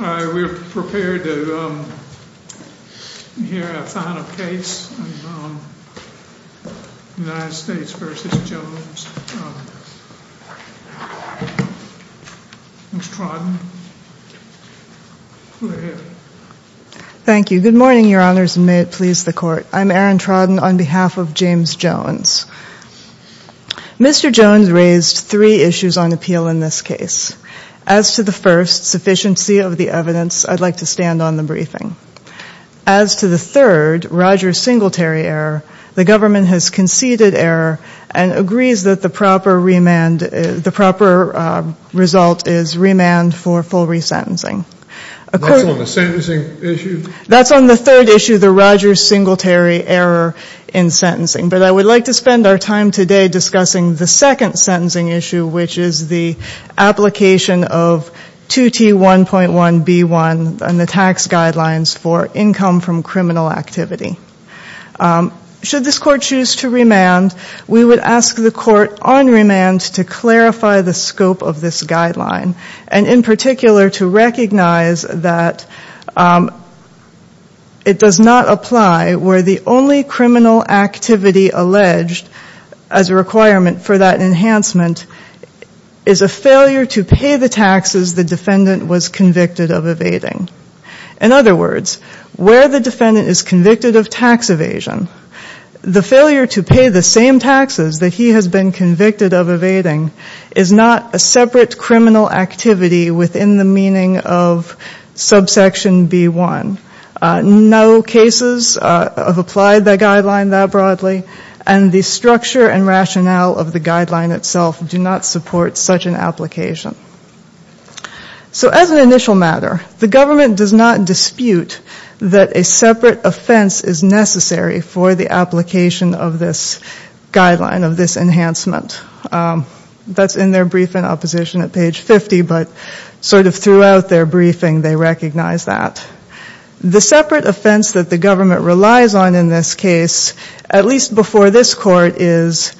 We're prepared to hear a final case, United States v. Jones. Ms. Trodden, go ahead. Thank you. Good morning, Your Honors, and may it please the Court. I'm Erin Trodden on behalf of James Jones. Mr. Jones raised three issues on appeal in this case. As to the first, sufficiency of the evidence, I'd like to stand on the briefing. As to the third, Rogers Singletary error, the government has conceded error and agrees that the proper remand, the proper result is remand for full resentencing. That's on the sentencing issue? That's on the third issue, the Rogers Singletary error in sentencing. But I would like to spend our time today discussing the second sentencing issue, which is the application of 2T1.1b1 and the tax guidelines for income from criminal activity. Should this Court choose to remand, we would ask the Court on remand to clarify the scope of this guideline, and in particular to recognize that it does not apply where the only criminal activity alleged as a requirement for that enhancement is a failure to pay the taxes the defendant was convicted of evading. In other words, where the defendant is convicted of tax evasion, the failure to pay the same taxes that he has been convicted of evading is not a separate criminal activity within the meaning of subsection b1. No cases have applied the guideline that broadly, and the structure and rationale of the guideline itself do not support such an application. So as an initial matter, the government does not dispute that a separate offense is necessary for the application of this guideline, of this enhancement. That's in their briefing in opposition at page 50, but sort of throughout their briefing, they recognize that. The separate offense that the government relies on in this case, at least before this Court, is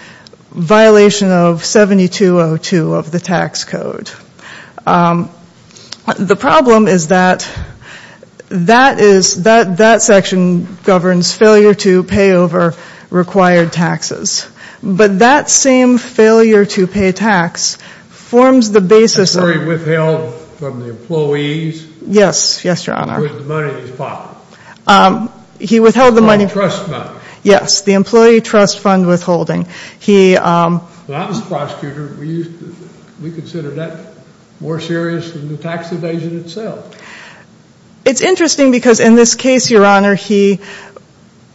violation of 7202 of the tax code. The problem is that that section governs failure to pay over required taxes. But that same failure to pay tax forms the basis of... So he withheld from the employees? Yes, yes, Your Honor. Who had the money in his pocket? He withheld the money... The trust money? Yes, the employee trust fund withholding. He... When I was a prosecutor, we used to, we considered that more serious than the tax evasion itself. So it's interesting because in this case, Your Honor, he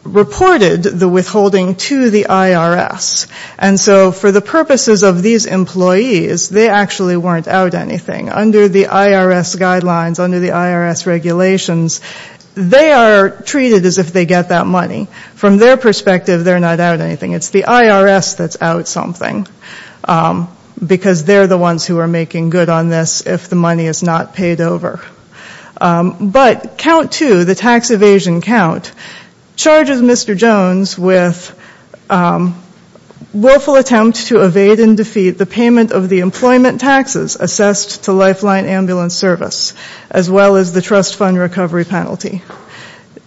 reported the withholding to the IRS. And so for the purposes of these employees, they actually weren't out anything. Under the IRS guidelines, under the IRS regulations, they are treated as if they get that money. From their perspective, they're not out anything. It's the IRS that's out something. Because they're the ones who are making good on this if the money is not paid over. But count two, the tax evasion count, charges Mr. Jones with willful attempt to evade and defeat the payment of the employment taxes assessed to Lifeline Ambulance Service, as well as the trust fund recovery penalty.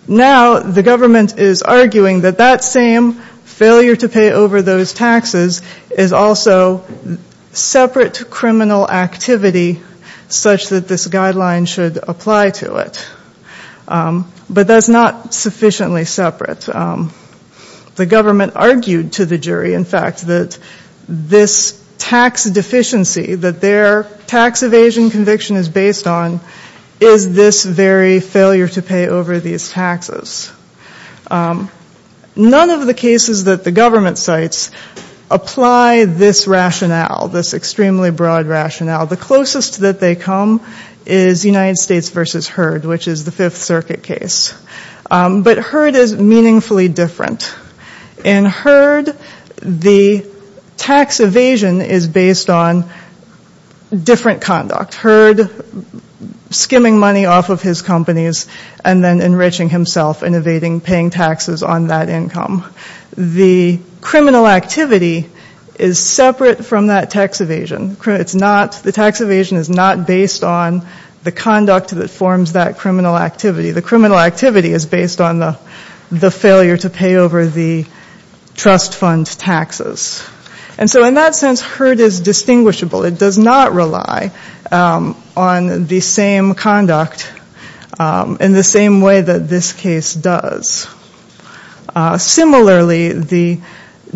Now, the government is arguing that that same failure to pay over those taxes is also separate criminal activity such that this guideline should apply to it. But that's not sufficiently separate. The government argued to the jury, in fact, that this tax deficiency that their tax evasion conviction is based on is this very failure to pay over these taxes. None of the cases that the government cites apply this rationale, this extremely broad rationale. The closest that they come is United States v. Heard, which is the Fifth Circuit case. But Heard is meaningfully different. In Heard, the tax evasion is based on different conduct. Heard skimming money off of his companies and then enriching himself, evading paying taxes on that income. The criminal activity is separate from that tax evasion. It's not, the tax evasion is not based on the conduct that forms that criminal activity. The criminal activity is based on the failure to pay over the trust fund taxes. And so in that sense, Heard is distinguishable. It does not rely on the same conduct in the same way that this case does. Similarly, the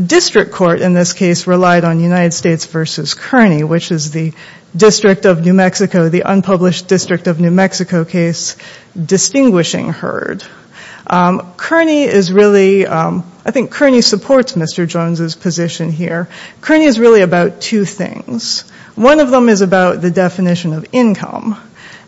district court in this case relied on United States v. Kearney, which is the District of New Mexico, the unpublished District of New Mexico case, distinguishing Heard. Kearney is really, I think Kearney supports Mr. Jones's position here. Kearney is really about two things. One of them is about the definition of income.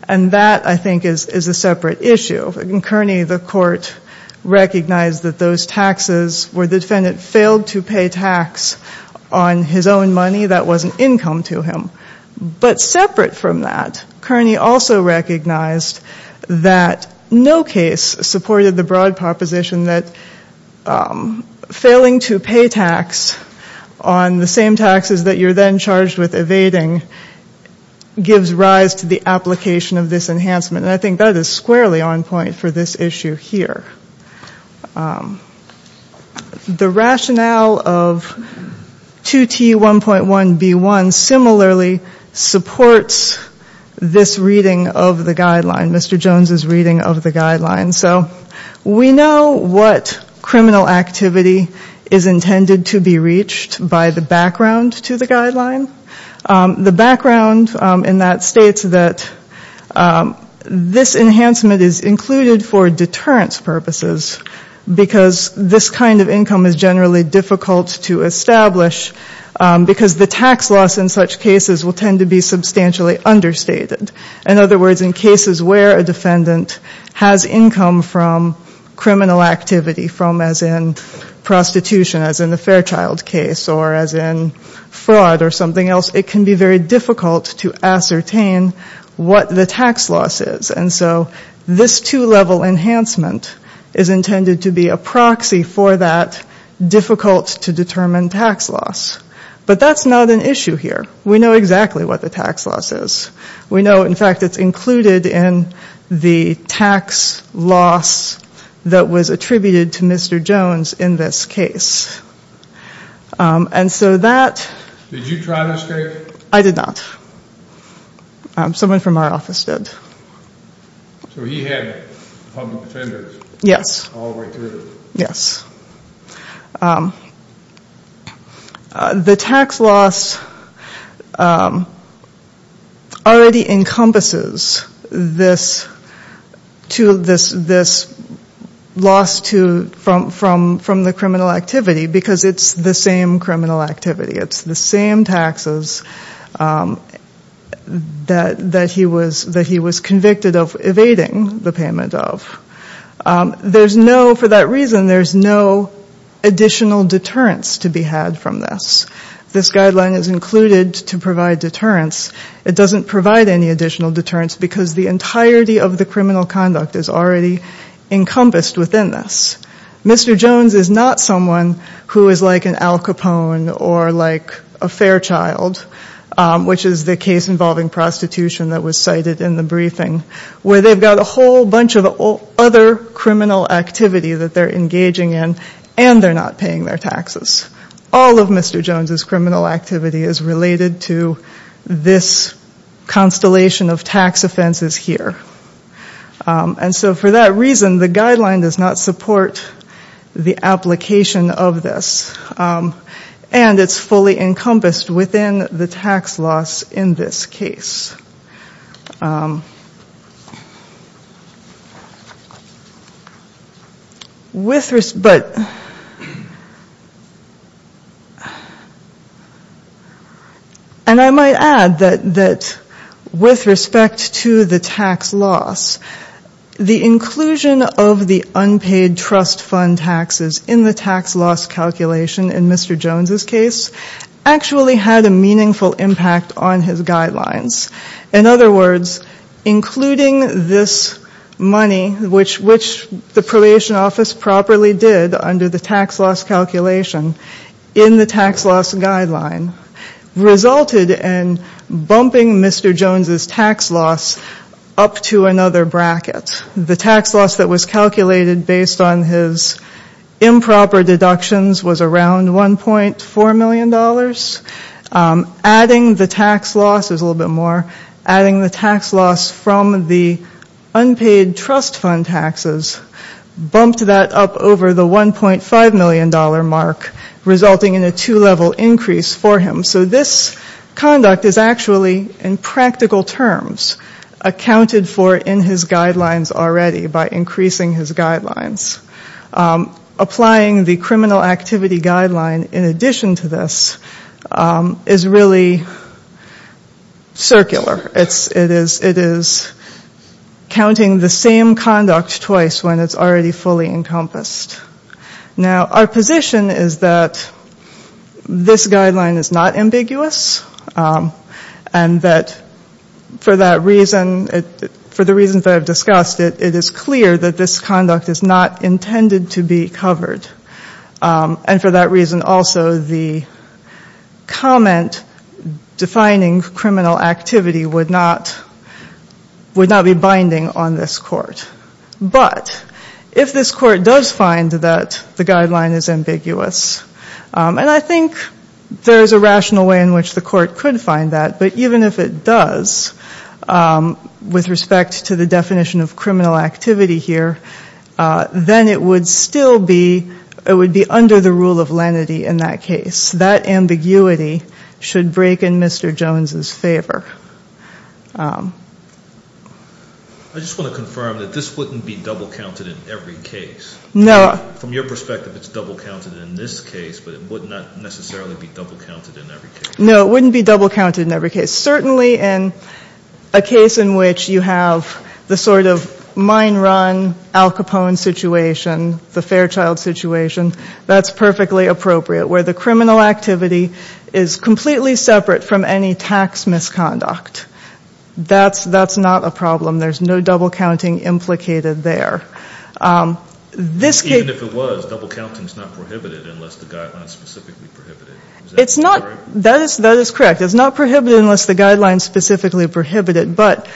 And that, I think, is a separate issue. In Kearney, the court recognized that those taxes where the defendant failed to pay tax on his own money, that wasn't income to him. But separate from that, Kearney also recognized that no case supported the broad proposition that failing to pay tax on the same taxes that you're then charged with evading gives rise to the application of this enhancement. And I think that is squarely on point for this issue here. The rationale of 2T1.1B1 similarly supports this reading of the guideline, Mr. Jones's reading of the guideline. So we know what criminal activity is intended to be reached by the background to the guideline. The background in that states that this enhancement is included for deterrence purposes, because this kind of income is generally difficult to establish because the tax loss in such cases will tend to be substantially understated. In other words, in cases where a defendant has income from criminal activity, from as in prostitution, as in the Fairchild case, or as in fraud or something else, it can be very difficult to ascertain what the tax loss is. And so this two-level enhancement is intended to be a proxy for that difficult to determine tax loss. But that's not an issue here. We know exactly what the tax loss is. We know, in fact, it's included in the tax loss that was attributed to Mr. Jones in this case. And so that... Did you try this case? I did not. Someone from our office did. So he had public defenders? Yes. All the way through? Yes. The tax loss already encompasses this loss from the criminal activity, because it's the same criminal activity. It's the same taxes that he was convicted of evading the payment of. There's no... For that reason, there's no additional deterrence to be had from this. This guideline is included to provide deterrence. It doesn't provide any additional deterrence, because the entirety of the criminal conduct is already encompassed within this. Mr. Jones is not someone who is like an Al Capone or like a Fairchild, which is the case involving prostitution that was cited in the briefing, where they've got a whole bunch of other criminal activity that they're engaging in, and they're not paying their taxes. All of Mr. Jones' criminal activity is related to this constellation of tax offenses here. And so for that reason, the guideline does not support the application of this. And it's fully encompassed within the tax loss in this case. And I might add that with respect to the tax loss, the inclusion of the unpaid trust fund taxes in the tax loss calculation in Mr. Jones' case actually had a meaningful impact on his guidelines. In other words, including this money, which the probation office properly did under the tax loss calculation in the tax loss guideline, resulted in bumping Mr. Jones' tax loss up to another bracket. The tax loss that was calculated based on his improper deductions was around $1.4 million. Adding the tax loss, there's a little bit more, adding the tax loss from the unpaid trust fund taxes bumped that up over the $1.5 million mark, resulting in a two-level increase for him. So this conduct is actually in practical terms accounted for in his guidelines already by increasing his guidelines. Applying the criminal activity guideline in addition to this is really circular. It is counting the same conduct twice when it's already fully encompassed. Now, our position is that this guideline is not ambiguous, and that for the reasons that I've discussed, it is clear that this conduct is not intended to be covered. And for that reason also, the comment defining criminal activity would not be binding on this court. But if this court does find that the guideline is ambiguous, and I think there is a rational way in which the court could find that, but even if it does with respect to the definition of criminal activity here, then it would still be under the rule of lenity in that case. That ambiguity should break in Mr. Jones' favor. I just want to confirm that this wouldn't be double-counted in every case. No. From your perspective, it's double-counted in this case, but it would not necessarily be double-counted in every case. No, it wouldn't be double-counted in every case. Certainly in a case in which you have the sort of mine run Al Capone situation, the Fairchild situation, that's perfectly appropriate, where the criminal activity is completely separate from any tax misconduct. That's not a problem. There's no double-counting implicated there. Even if it was, double-counting is not prohibited unless the guideline is specifically prohibited. Is that correct? That is correct. It's not prohibited unless the guideline is specifically prohibited, but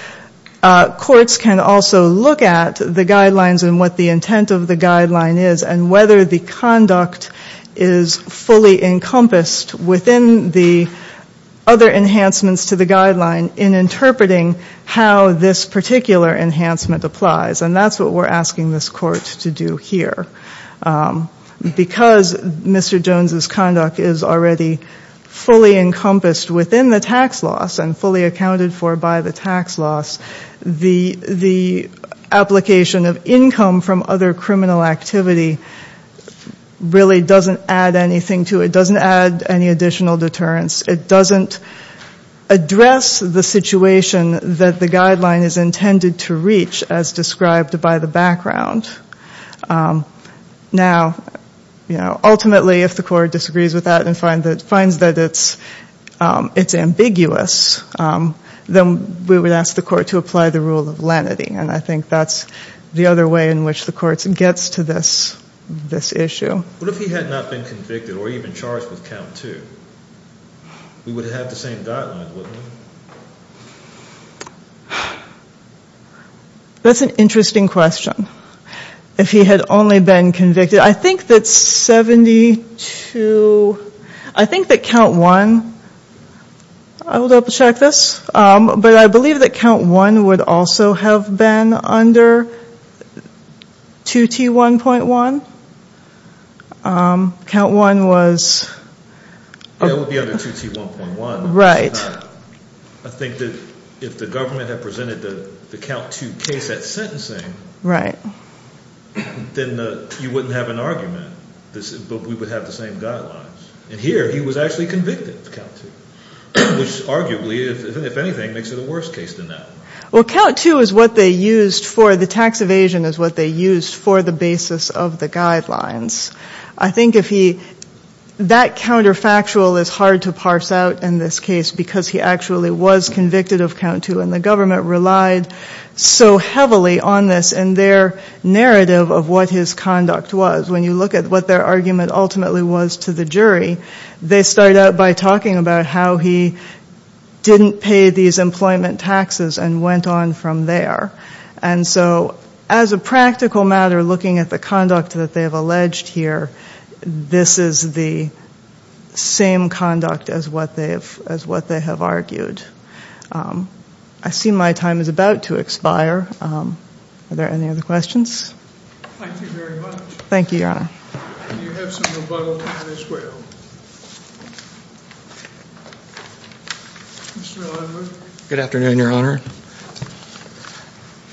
courts can also look at the guidelines and what the intent of the guideline is and whether the conduct is fully encompassed within the other enhancements to the guideline in interpreting how this particular enhancement applies, and that's what we're asking this court to do here. Because Mr. Jones' conduct is already fully encompassed within the tax loss and fully accounted for by the tax loss, the application of income from other criminal activity really doesn't add anything to it. It doesn't add any additional deterrence. It doesn't address the situation that the guideline is intended to reach, as described by the background. Now, ultimately, if the court disagrees with that and finds that it's ambiguous, then we would ask the court to apply the rule of lenity, and I think that's the other way in which the court gets to this issue. What if he had not been convicted or even charged with count two? We would have had the same guidelines, wouldn't we? That's an interesting question, if he had only been convicted. I think that's 72. I think that count one, I will double-check this, but I believe that count one would also have been under 2T1.1. Count one was? It would be under 2T1.1. Right. I think that if the government had presented the count two case at sentencing, then you wouldn't have an argument, but we would have the same guidelines. And here, he was actually convicted of count two, which arguably, if anything, makes it a worse case than that. Well, count two is what they used for the tax evasion, is what they used for the basis of the guidelines. I think that counterfactual is hard to parse out in this case because he actually was convicted of count two, and the government relied so heavily on this in their narrative of what his conduct was. When you look at what their argument ultimately was to the jury, they start out by talking about how he didn't pay these employment taxes and went on from there. And so as a practical matter, looking at the conduct that they have alleged here, this is the same conduct as what they have argued. I see my time is about to expire. Are there any other questions? Thank you very much. Thank you, Your Honor. You have some rebuttal time as well. Mr. Ellenwood. Good afternoon, Your Honor.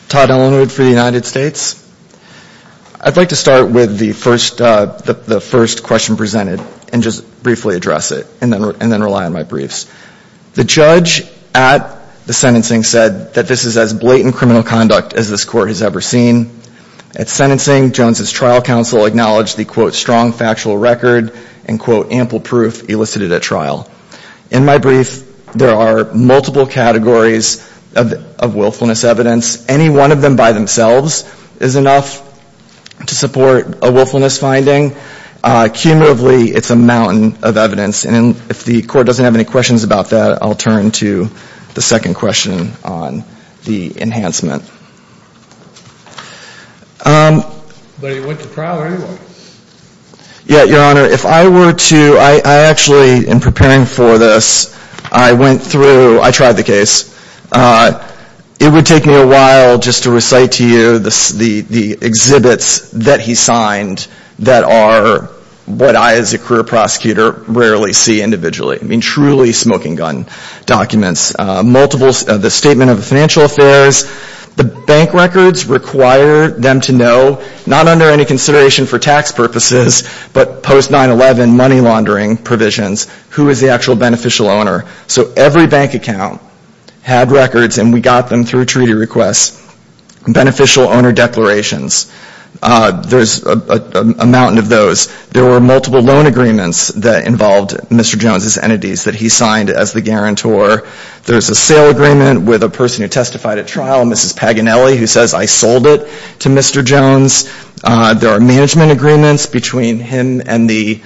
Todd Ellenwood for the United States. I'd like to start with the first question presented and just briefly address it, and then rely on my briefs. The judge at the sentencing said that this is as blatant criminal conduct as this Court has ever seen. At sentencing, Jones' trial counsel acknowledged the, quote, strong factual record and, quote, ample proof elicited at trial. In my brief, there are multiple categories of willfulness evidence. Any one of them by themselves is enough to support a willfulness finding. Cumulatively, it's a mountain of evidence. And if the Court doesn't have any questions about that, I'll turn to the second question on the enhancement. But he went to trial anyway. Yeah, Your Honor. If I were to, I actually, in preparing for this, I went through, I tried the case. It would take me a while just to recite to you the exhibits that he signed that are what I, as a career prosecutor, rarely see individually. I mean, truly smoking gun documents. Multiple, the statement of financial affairs, the bank records require them to know, not under any consideration for tax purposes, but post-9-11 money laundering provisions, who is the actual beneficial owner. So every bank account had records, and we got them through treaty requests. Beneficial owner declarations, there's a mountain of those. There were multiple loan agreements that involved Mr. Jones' entities that he signed as the guarantor. There's a sale agreement with a person who testified at trial, Mrs. Paganelli, who says, I sold it to Mr. Jones. There are management agreements between him and the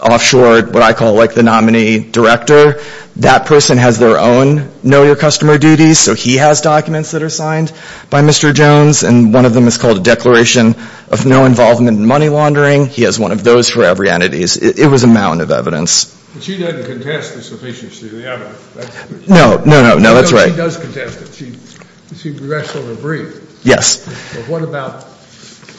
offshore, what I call the nominee director. That person has their own know-your-customer duties, so he has documents that are signed by Mr. Jones, and one of them is called a declaration of no involvement in money laundering. He has one of those for every entity. It was a mountain of evidence. But she doesn't contest the sufficiency of the evidence. No, no, no, no, that's right. No, she does contest it. She rests on her breath. Yes. But what about the enhancement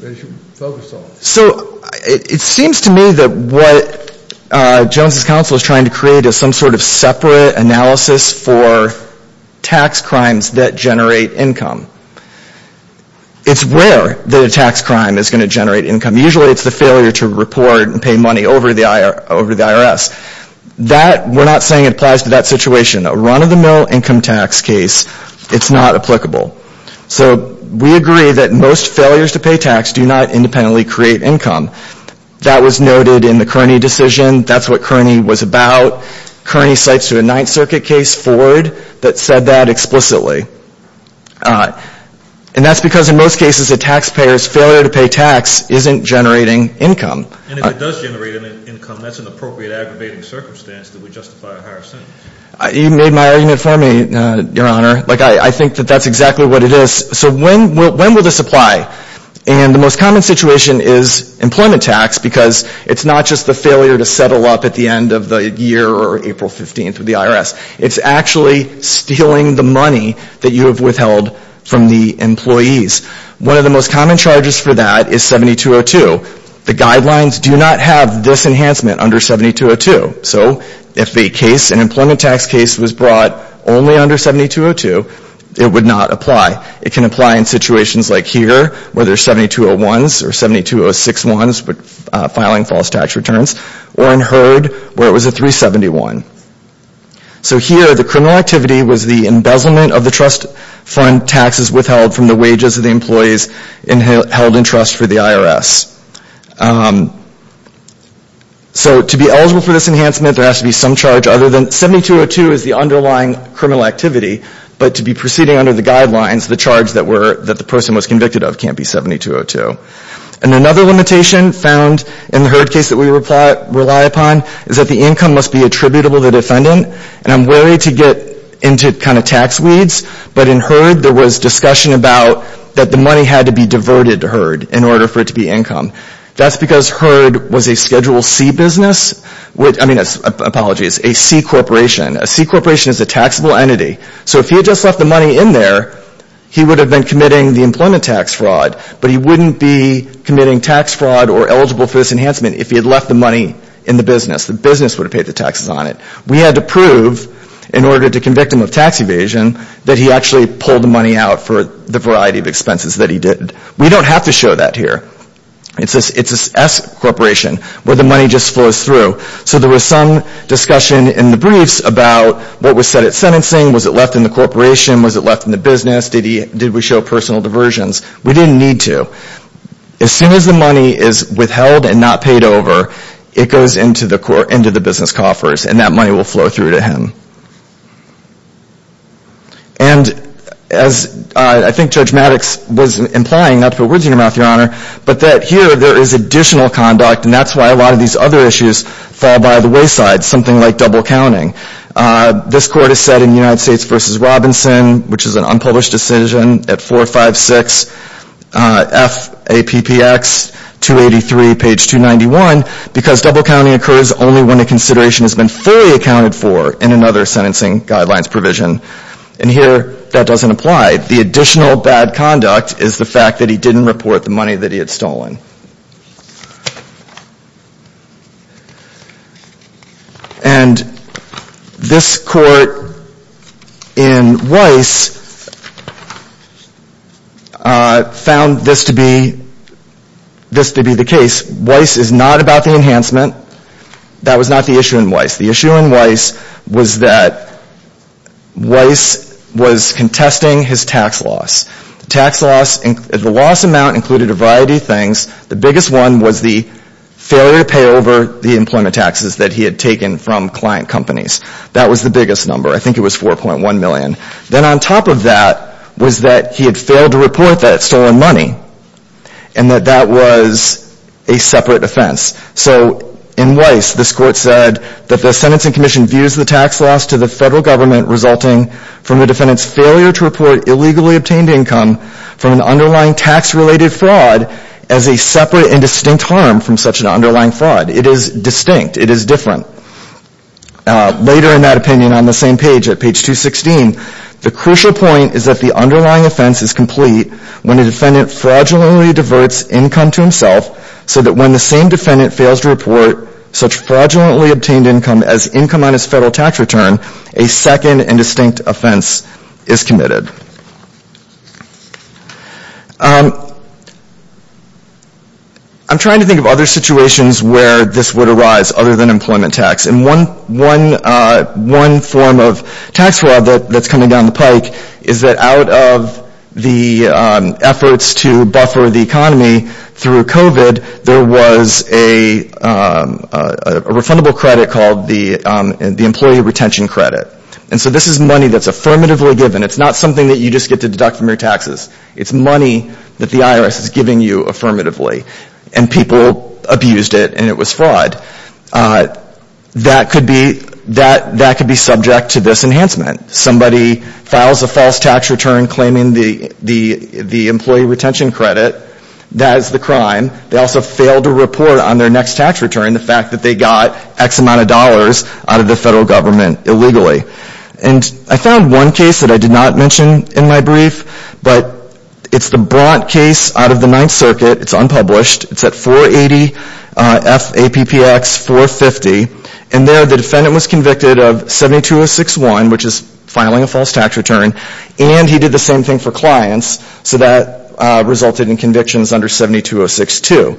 that she focused on? So it seems to me that what Jones' counsel is trying to create is some sort of separate analysis for tax crimes that generate income. It's rare that a tax crime is going to generate income. Usually it's the failure to report and pay money over the IRS. That, we're not saying it applies to that situation. A run-of-the-mill income tax case, it's not applicable. So we agree that most failures to pay tax do not independently create income. That was noted in the Kearney decision. That's what Kearney was about. Kearney cites a Ninth Circuit case, Ford, that said that explicitly. And that's because in most cases a taxpayer's failure to pay tax isn't generating income. And if it does generate income, that's an appropriate aggravating circumstance that would justify a higher sentence. You made my argument for me, Your Honor. I think that that's exactly what it is. So when will this apply? And the most common situation is employment tax because it's not just the failure to settle up at the end of the year or April 15th with the IRS. It's actually stealing the money that you have withheld from the employees. One of the most common charges for that is 7202. The guidelines do not have this enhancement under 7202. So if an employment tax case was brought only under 7202, it would not apply. It can apply in situations like here where there's 7201s or 72061s, but filing false tax returns, or in Heard where it was a 371. So here the criminal activity was the embezzlement of the trust fund taxes withheld from the wages of the employees held in trust for the IRS. So to be eligible for this enhancement, there has to be some charge other than 7202 is the underlying criminal activity, but to be proceeding under the guidelines, the charge that the person was convicted of can't be 7202. And another limitation found in the Heard case that we rely upon is that the income must be attributable to the defendant. And I'm wary to get into kind of tax weeds, but in Heard there was discussion about that the money had to be diverted to Heard in order for it to be income. That's because Heard was a Schedule C business, I mean, apologies, a C corporation. A C corporation is a taxable entity. So if he had just left the money in there, he would have been committing the employment tax fraud, but he wouldn't be committing tax fraud or eligible for this enhancement if he had left the money in the business. The business would have paid the taxes on it. We had to prove in order to convict him of tax evasion that he actually pulled the money out for the variety of expenses that he did. We don't have to show that here. It's an S corporation where the money just flows through. So there was some discussion in the briefs about what was said at sentencing, was it left in the corporation, was it left in the business, did we show personal diversions? We didn't need to. As soon as the money is withheld and not paid over, it goes into the business coffers and that money will flow through to him. And as I think Judge Maddox was implying, not to put words in your mouth, Your Honor, but that here there is additional conduct and that's why a lot of these other issues fall by the wayside, something like double counting. This court has said in United States v. Robinson, which is an unpublished decision, at 456 FAPPX 283, page 291, because double counting occurs only when a consideration has been fully accounted for in another sentencing guidelines provision. And here that doesn't apply. The additional bad conduct is the fact that he didn't report the money that he had stolen. And this court in Weiss found this to be the case. Weiss is not about the enhancement. That was not the issue in Weiss. The issue in Weiss was that Weiss was contesting his tax loss. The loss amount included a variety of things. The biggest one was the failure to pay over the employment taxes that he had taken from client companies. That was the biggest number. I think it was $4.1 million. Then on top of that was that he had failed to report that stolen money and that that was a separate offense. So in Weiss, this court said that the sentencing commission views the tax loss to the federal government resulting from the defendant's failure to report illegally obtained income from an underlying tax-related fraud as a separate and distinct harm from such an underlying fraud. It is distinct. It is different. Later in that opinion, on the same page, at page 216, the crucial point is that the underlying offense is complete when a defendant fraudulently diverts income to himself so that when the same defendant fails to report such fraudulently obtained income as income on his federal tax return, a second and distinct offense is committed. I'm trying to think of other situations where this would arise other than employment tax. And one form of tax fraud that's coming down the pike is that out of the efforts to buffer the economy through COVID, there was a refundable credit called the employee retention credit. And so this is money that's affirmatively given. It's not something that you just get to deduct from your taxes. It's money that the IRS is giving you affirmatively. And people abused it, and it was fraud. That could be subject to this enhancement. Somebody files a false tax return claiming the employee retention credit. That is the crime. They also failed to report on their next tax return, the fact that they got X amount of dollars out of the federal government illegally. And I found one case that I did not mention in my brief, but it's the Bront case out of the Ninth Circuit. It's unpublished. It's at 480 FAPPX 450. And there the defendant was convicted of 72061, which is filing a false tax return, and he did the same thing for clients. So that resulted in convictions under 72062.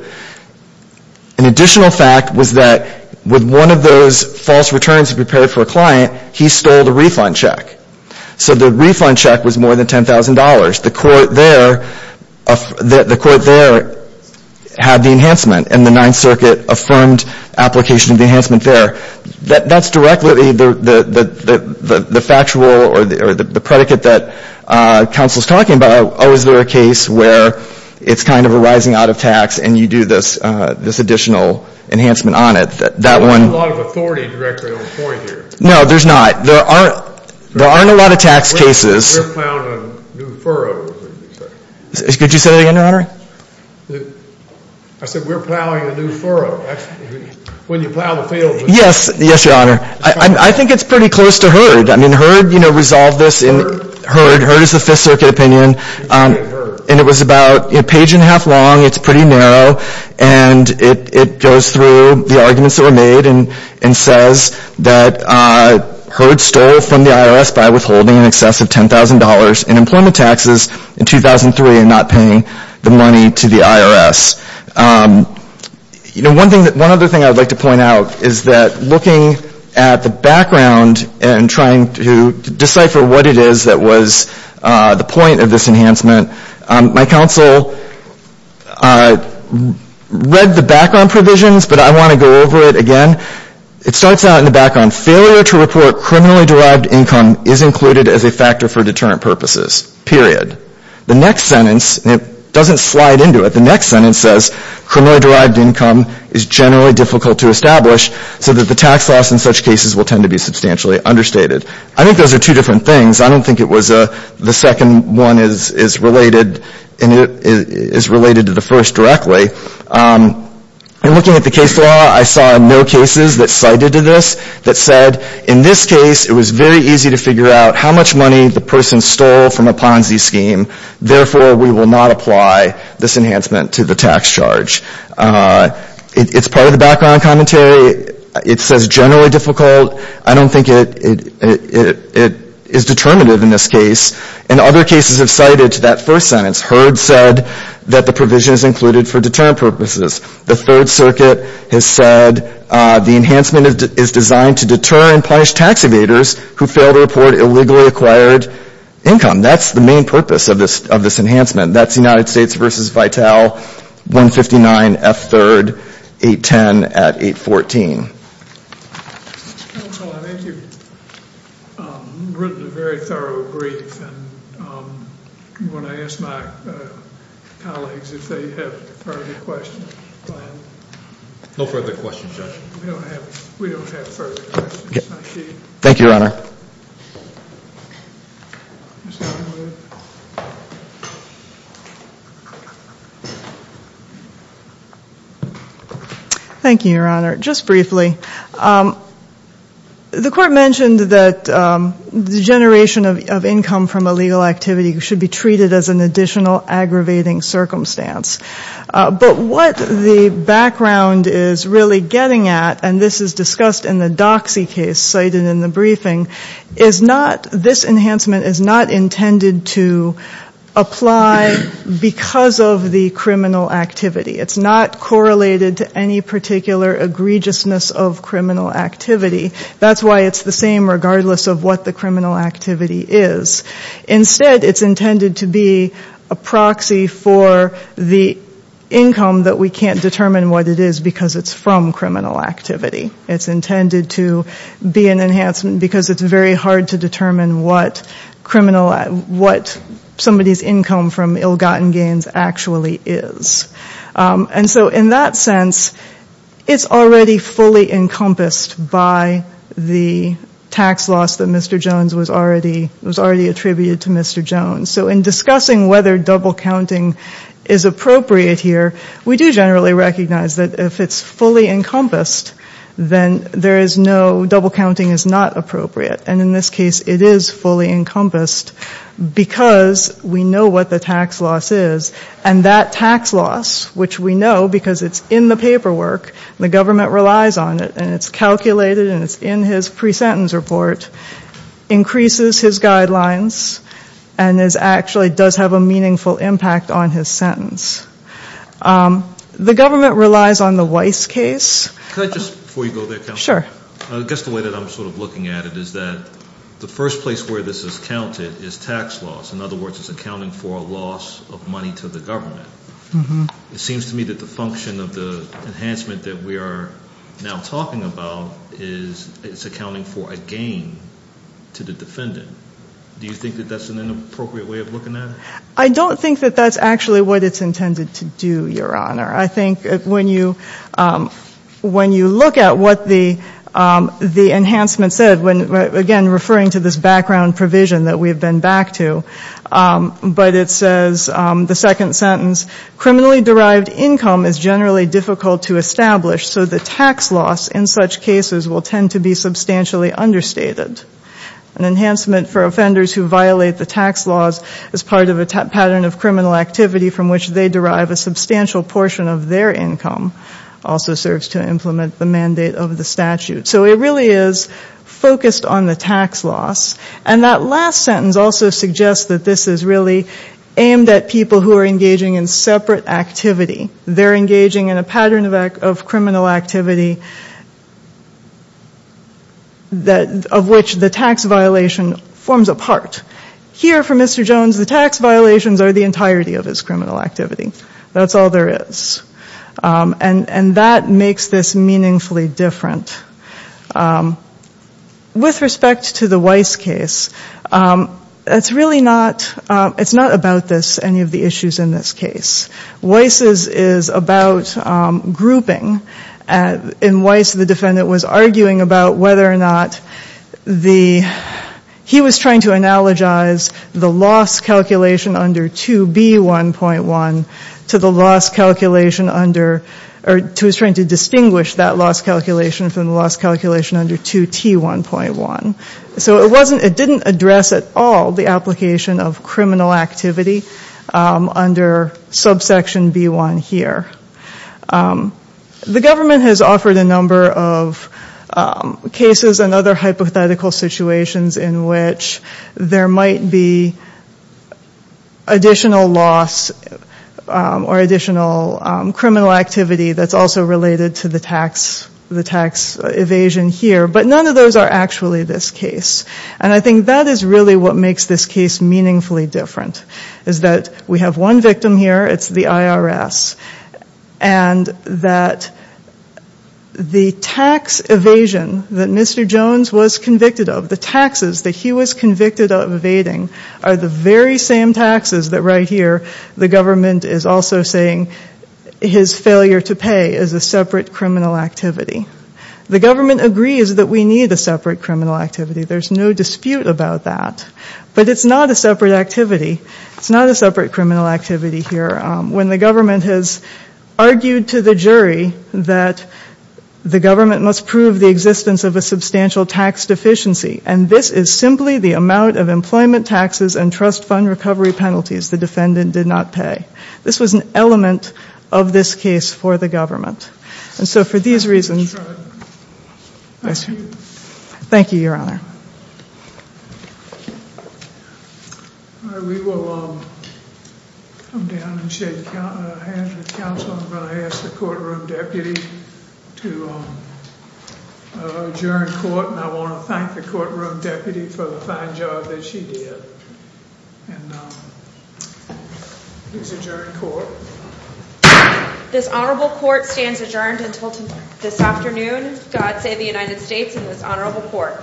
An additional fact was that with one of those false returns he prepared for a client, he stole the refund check. So the refund check was more than $10,000. The court there had the enhancement, and the Ninth Circuit affirmed application of the enhancement there. That's directly the factual or the predicate that counsel is talking about. Oh, is there a case where it's kind of arising out of tax and you do this additional enhancement on it. That one. There isn't a lot of authority directly on the point here. No, there's not. There aren't a lot of tax cases. We're plowing a new furrow. Could you say that again, Your Honor? I said we're plowing a new furrow. When you plow the field. Yes, Your Honor. I think it's pretty close to Heard. I mean, Heard resolved this. Heard is the Fifth Circuit opinion. And it was about a page and a half long. It's pretty narrow. And it goes through the arguments that were made and says that Heard stole from the IRS by withholding in excess of $10,000 in employment taxes in 2003 and not paying the money to the IRS. You know, one other thing I would like to point out is that looking at the background and trying to decipher what it is that was the point of this enhancement, my counsel read the background provisions, but I want to go over it again. It starts out in the background. Failure to report criminally-derived income is included as a factor for deterrent purposes, period. The next sentence, and it doesn't slide into it, the next sentence says, criminally-derived income is generally difficult to establish so that the tax loss in such cases will tend to be substantially understated. I think those are two different things. I don't think the second one is related to the first directly. In looking at the case law, I saw no cases that cited this that said, in this case, it was very easy to figure out how much money the person stole from a Ponzi scheme. Therefore, we will not apply this enhancement to the tax charge. It's part of the background commentary. It says generally difficult. I don't think it is determinative in this case. And other cases have cited that first sentence. Heard said that the provision is included for deterrent purposes. The Third Circuit has said the enhancement is designed to deter and punish tax evaders who fail to report illegally-acquired income. That's the main purpose of this enhancement. That's United States v. Vitale, 159 F. 3rd, 810 at 814. I think you've written a very thorough brief. Do you want to ask my colleagues if they have further questions? No further questions, Judge. We don't have further questions. Thank you, Your Honor. Thank you, Your Honor. Just briefly, the Court mentioned that the generation of income from illegal activity should be treated as an additional aggravating circumstance. But what the background is really getting at, and this is discussed in the Doxy case cited in the briefing, is not this enhancement is not intended to apply because of the criminal activity. It's not correlated to any particular egregiousness of criminal activity. That's why it's the same regardless of what the criminal activity is. Instead, it's intended to be a proxy for the income that we can't determine what it is because it's from criminal activity. It's intended to be an enhancement because it's very hard to determine what somebody's income from ill-gotten gains actually is. And so in that sense, it's already fully encompassed by the tax loss that Mr. Jones was already attributed to Mr. Jones. So in discussing whether double counting is appropriate here, we do generally recognize that if it's fully encompassed, then there is no double counting is not appropriate. And in this case, it is fully encompassed because we know what the tax loss is. And that tax loss, which we know because it's in the paperwork, and the government relies on it, and it's calculated and it's in his pre-sentence report, increases his guidelines and actually does have a meaningful impact on his sentence. The government relies on the Weiss case. Can I just, before you go there, Counselor? Sure. I guess the way that I'm sort of looking at it is that the first place where this is counted is tax loss. In other words, it's accounting for a loss of money to the government. It seems to me that the function of the enhancement that we are now talking about is it's accounting for a gain to the defendant. Do you think that that's an inappropriate way of looking at it? I don't think that that's actually what it's intended to do, Your Honor. I think when you look at what the enhancement said, again, referring to this background provision that we've been back to, but it says, the second sentence, criminally derived income is generally difficult to establish, so the tax loss in such cases will tend to be substantially understated. An enhancement for offenders who violate the tax laws as part of a pattern of criminal activity from which they derive a substantial portion of their income also serves to implement the mandate of the statute. So it really is focused on the tax loss. And that last sentence also suggests that this is really aimed at people who are engaging in separate activity. They're engaging in a pattern of criminal activity of which the tax violation forms a part. Here, for Mr. Jones, the tax violations are the entirety of his criminal activity. That's all there is. And that makes this meaningfully different. With respect to the Weiss case, it's really not about this, any of the issues in this case. Weiss is about grouping. In Weiss, the defendant was arguing about whether or not the ‑‑ he was trying to analogize the loss calculation under 2B1.1 to the loss calculation under ‑‑ or he was trying to distinguish that loss calculation from the loss calculation under 2T1.1. So it didn't address at all the application of criminal activity under subsection B1 here. The government has offered a number of cases and other hypothetical situations in which there might be additional loss or additional criminal activity that's also related to the tax evasion here. But none of those are actually this case. And I think that is really what makes this case meaningfully different, is that we have one victim here. It's the IRS. And that the tax evasion that Mr. Jones was convicted of, the taxes that he was convicted of evading, are the very same taxes that right here the government is also saying his failure to pay is a separate criminal activity. The government agrees that we need a separate criminal activity. There's no dispute about that. But it's not a separate activity. It's not a separate criminal activity here. When the government has argued to the jury that the government must prove the existence of a substantial tax deficiency, and this is simply the amount of employment taxes and trust fund recovery penalties the defendant did not pay. This was an element of this case for the government. And so for these reasons, thank you, Your Honor. Thank you, Your Honor. We will come down and shake hands with counsel. I'm going to ask the courtroom deputy to adjourn court. And I want to thank the courtroom deputy for the fine job that she did. And he's adjourned court. This honorable court stands adjourned until this afternoon. God save the United States and this honorable court.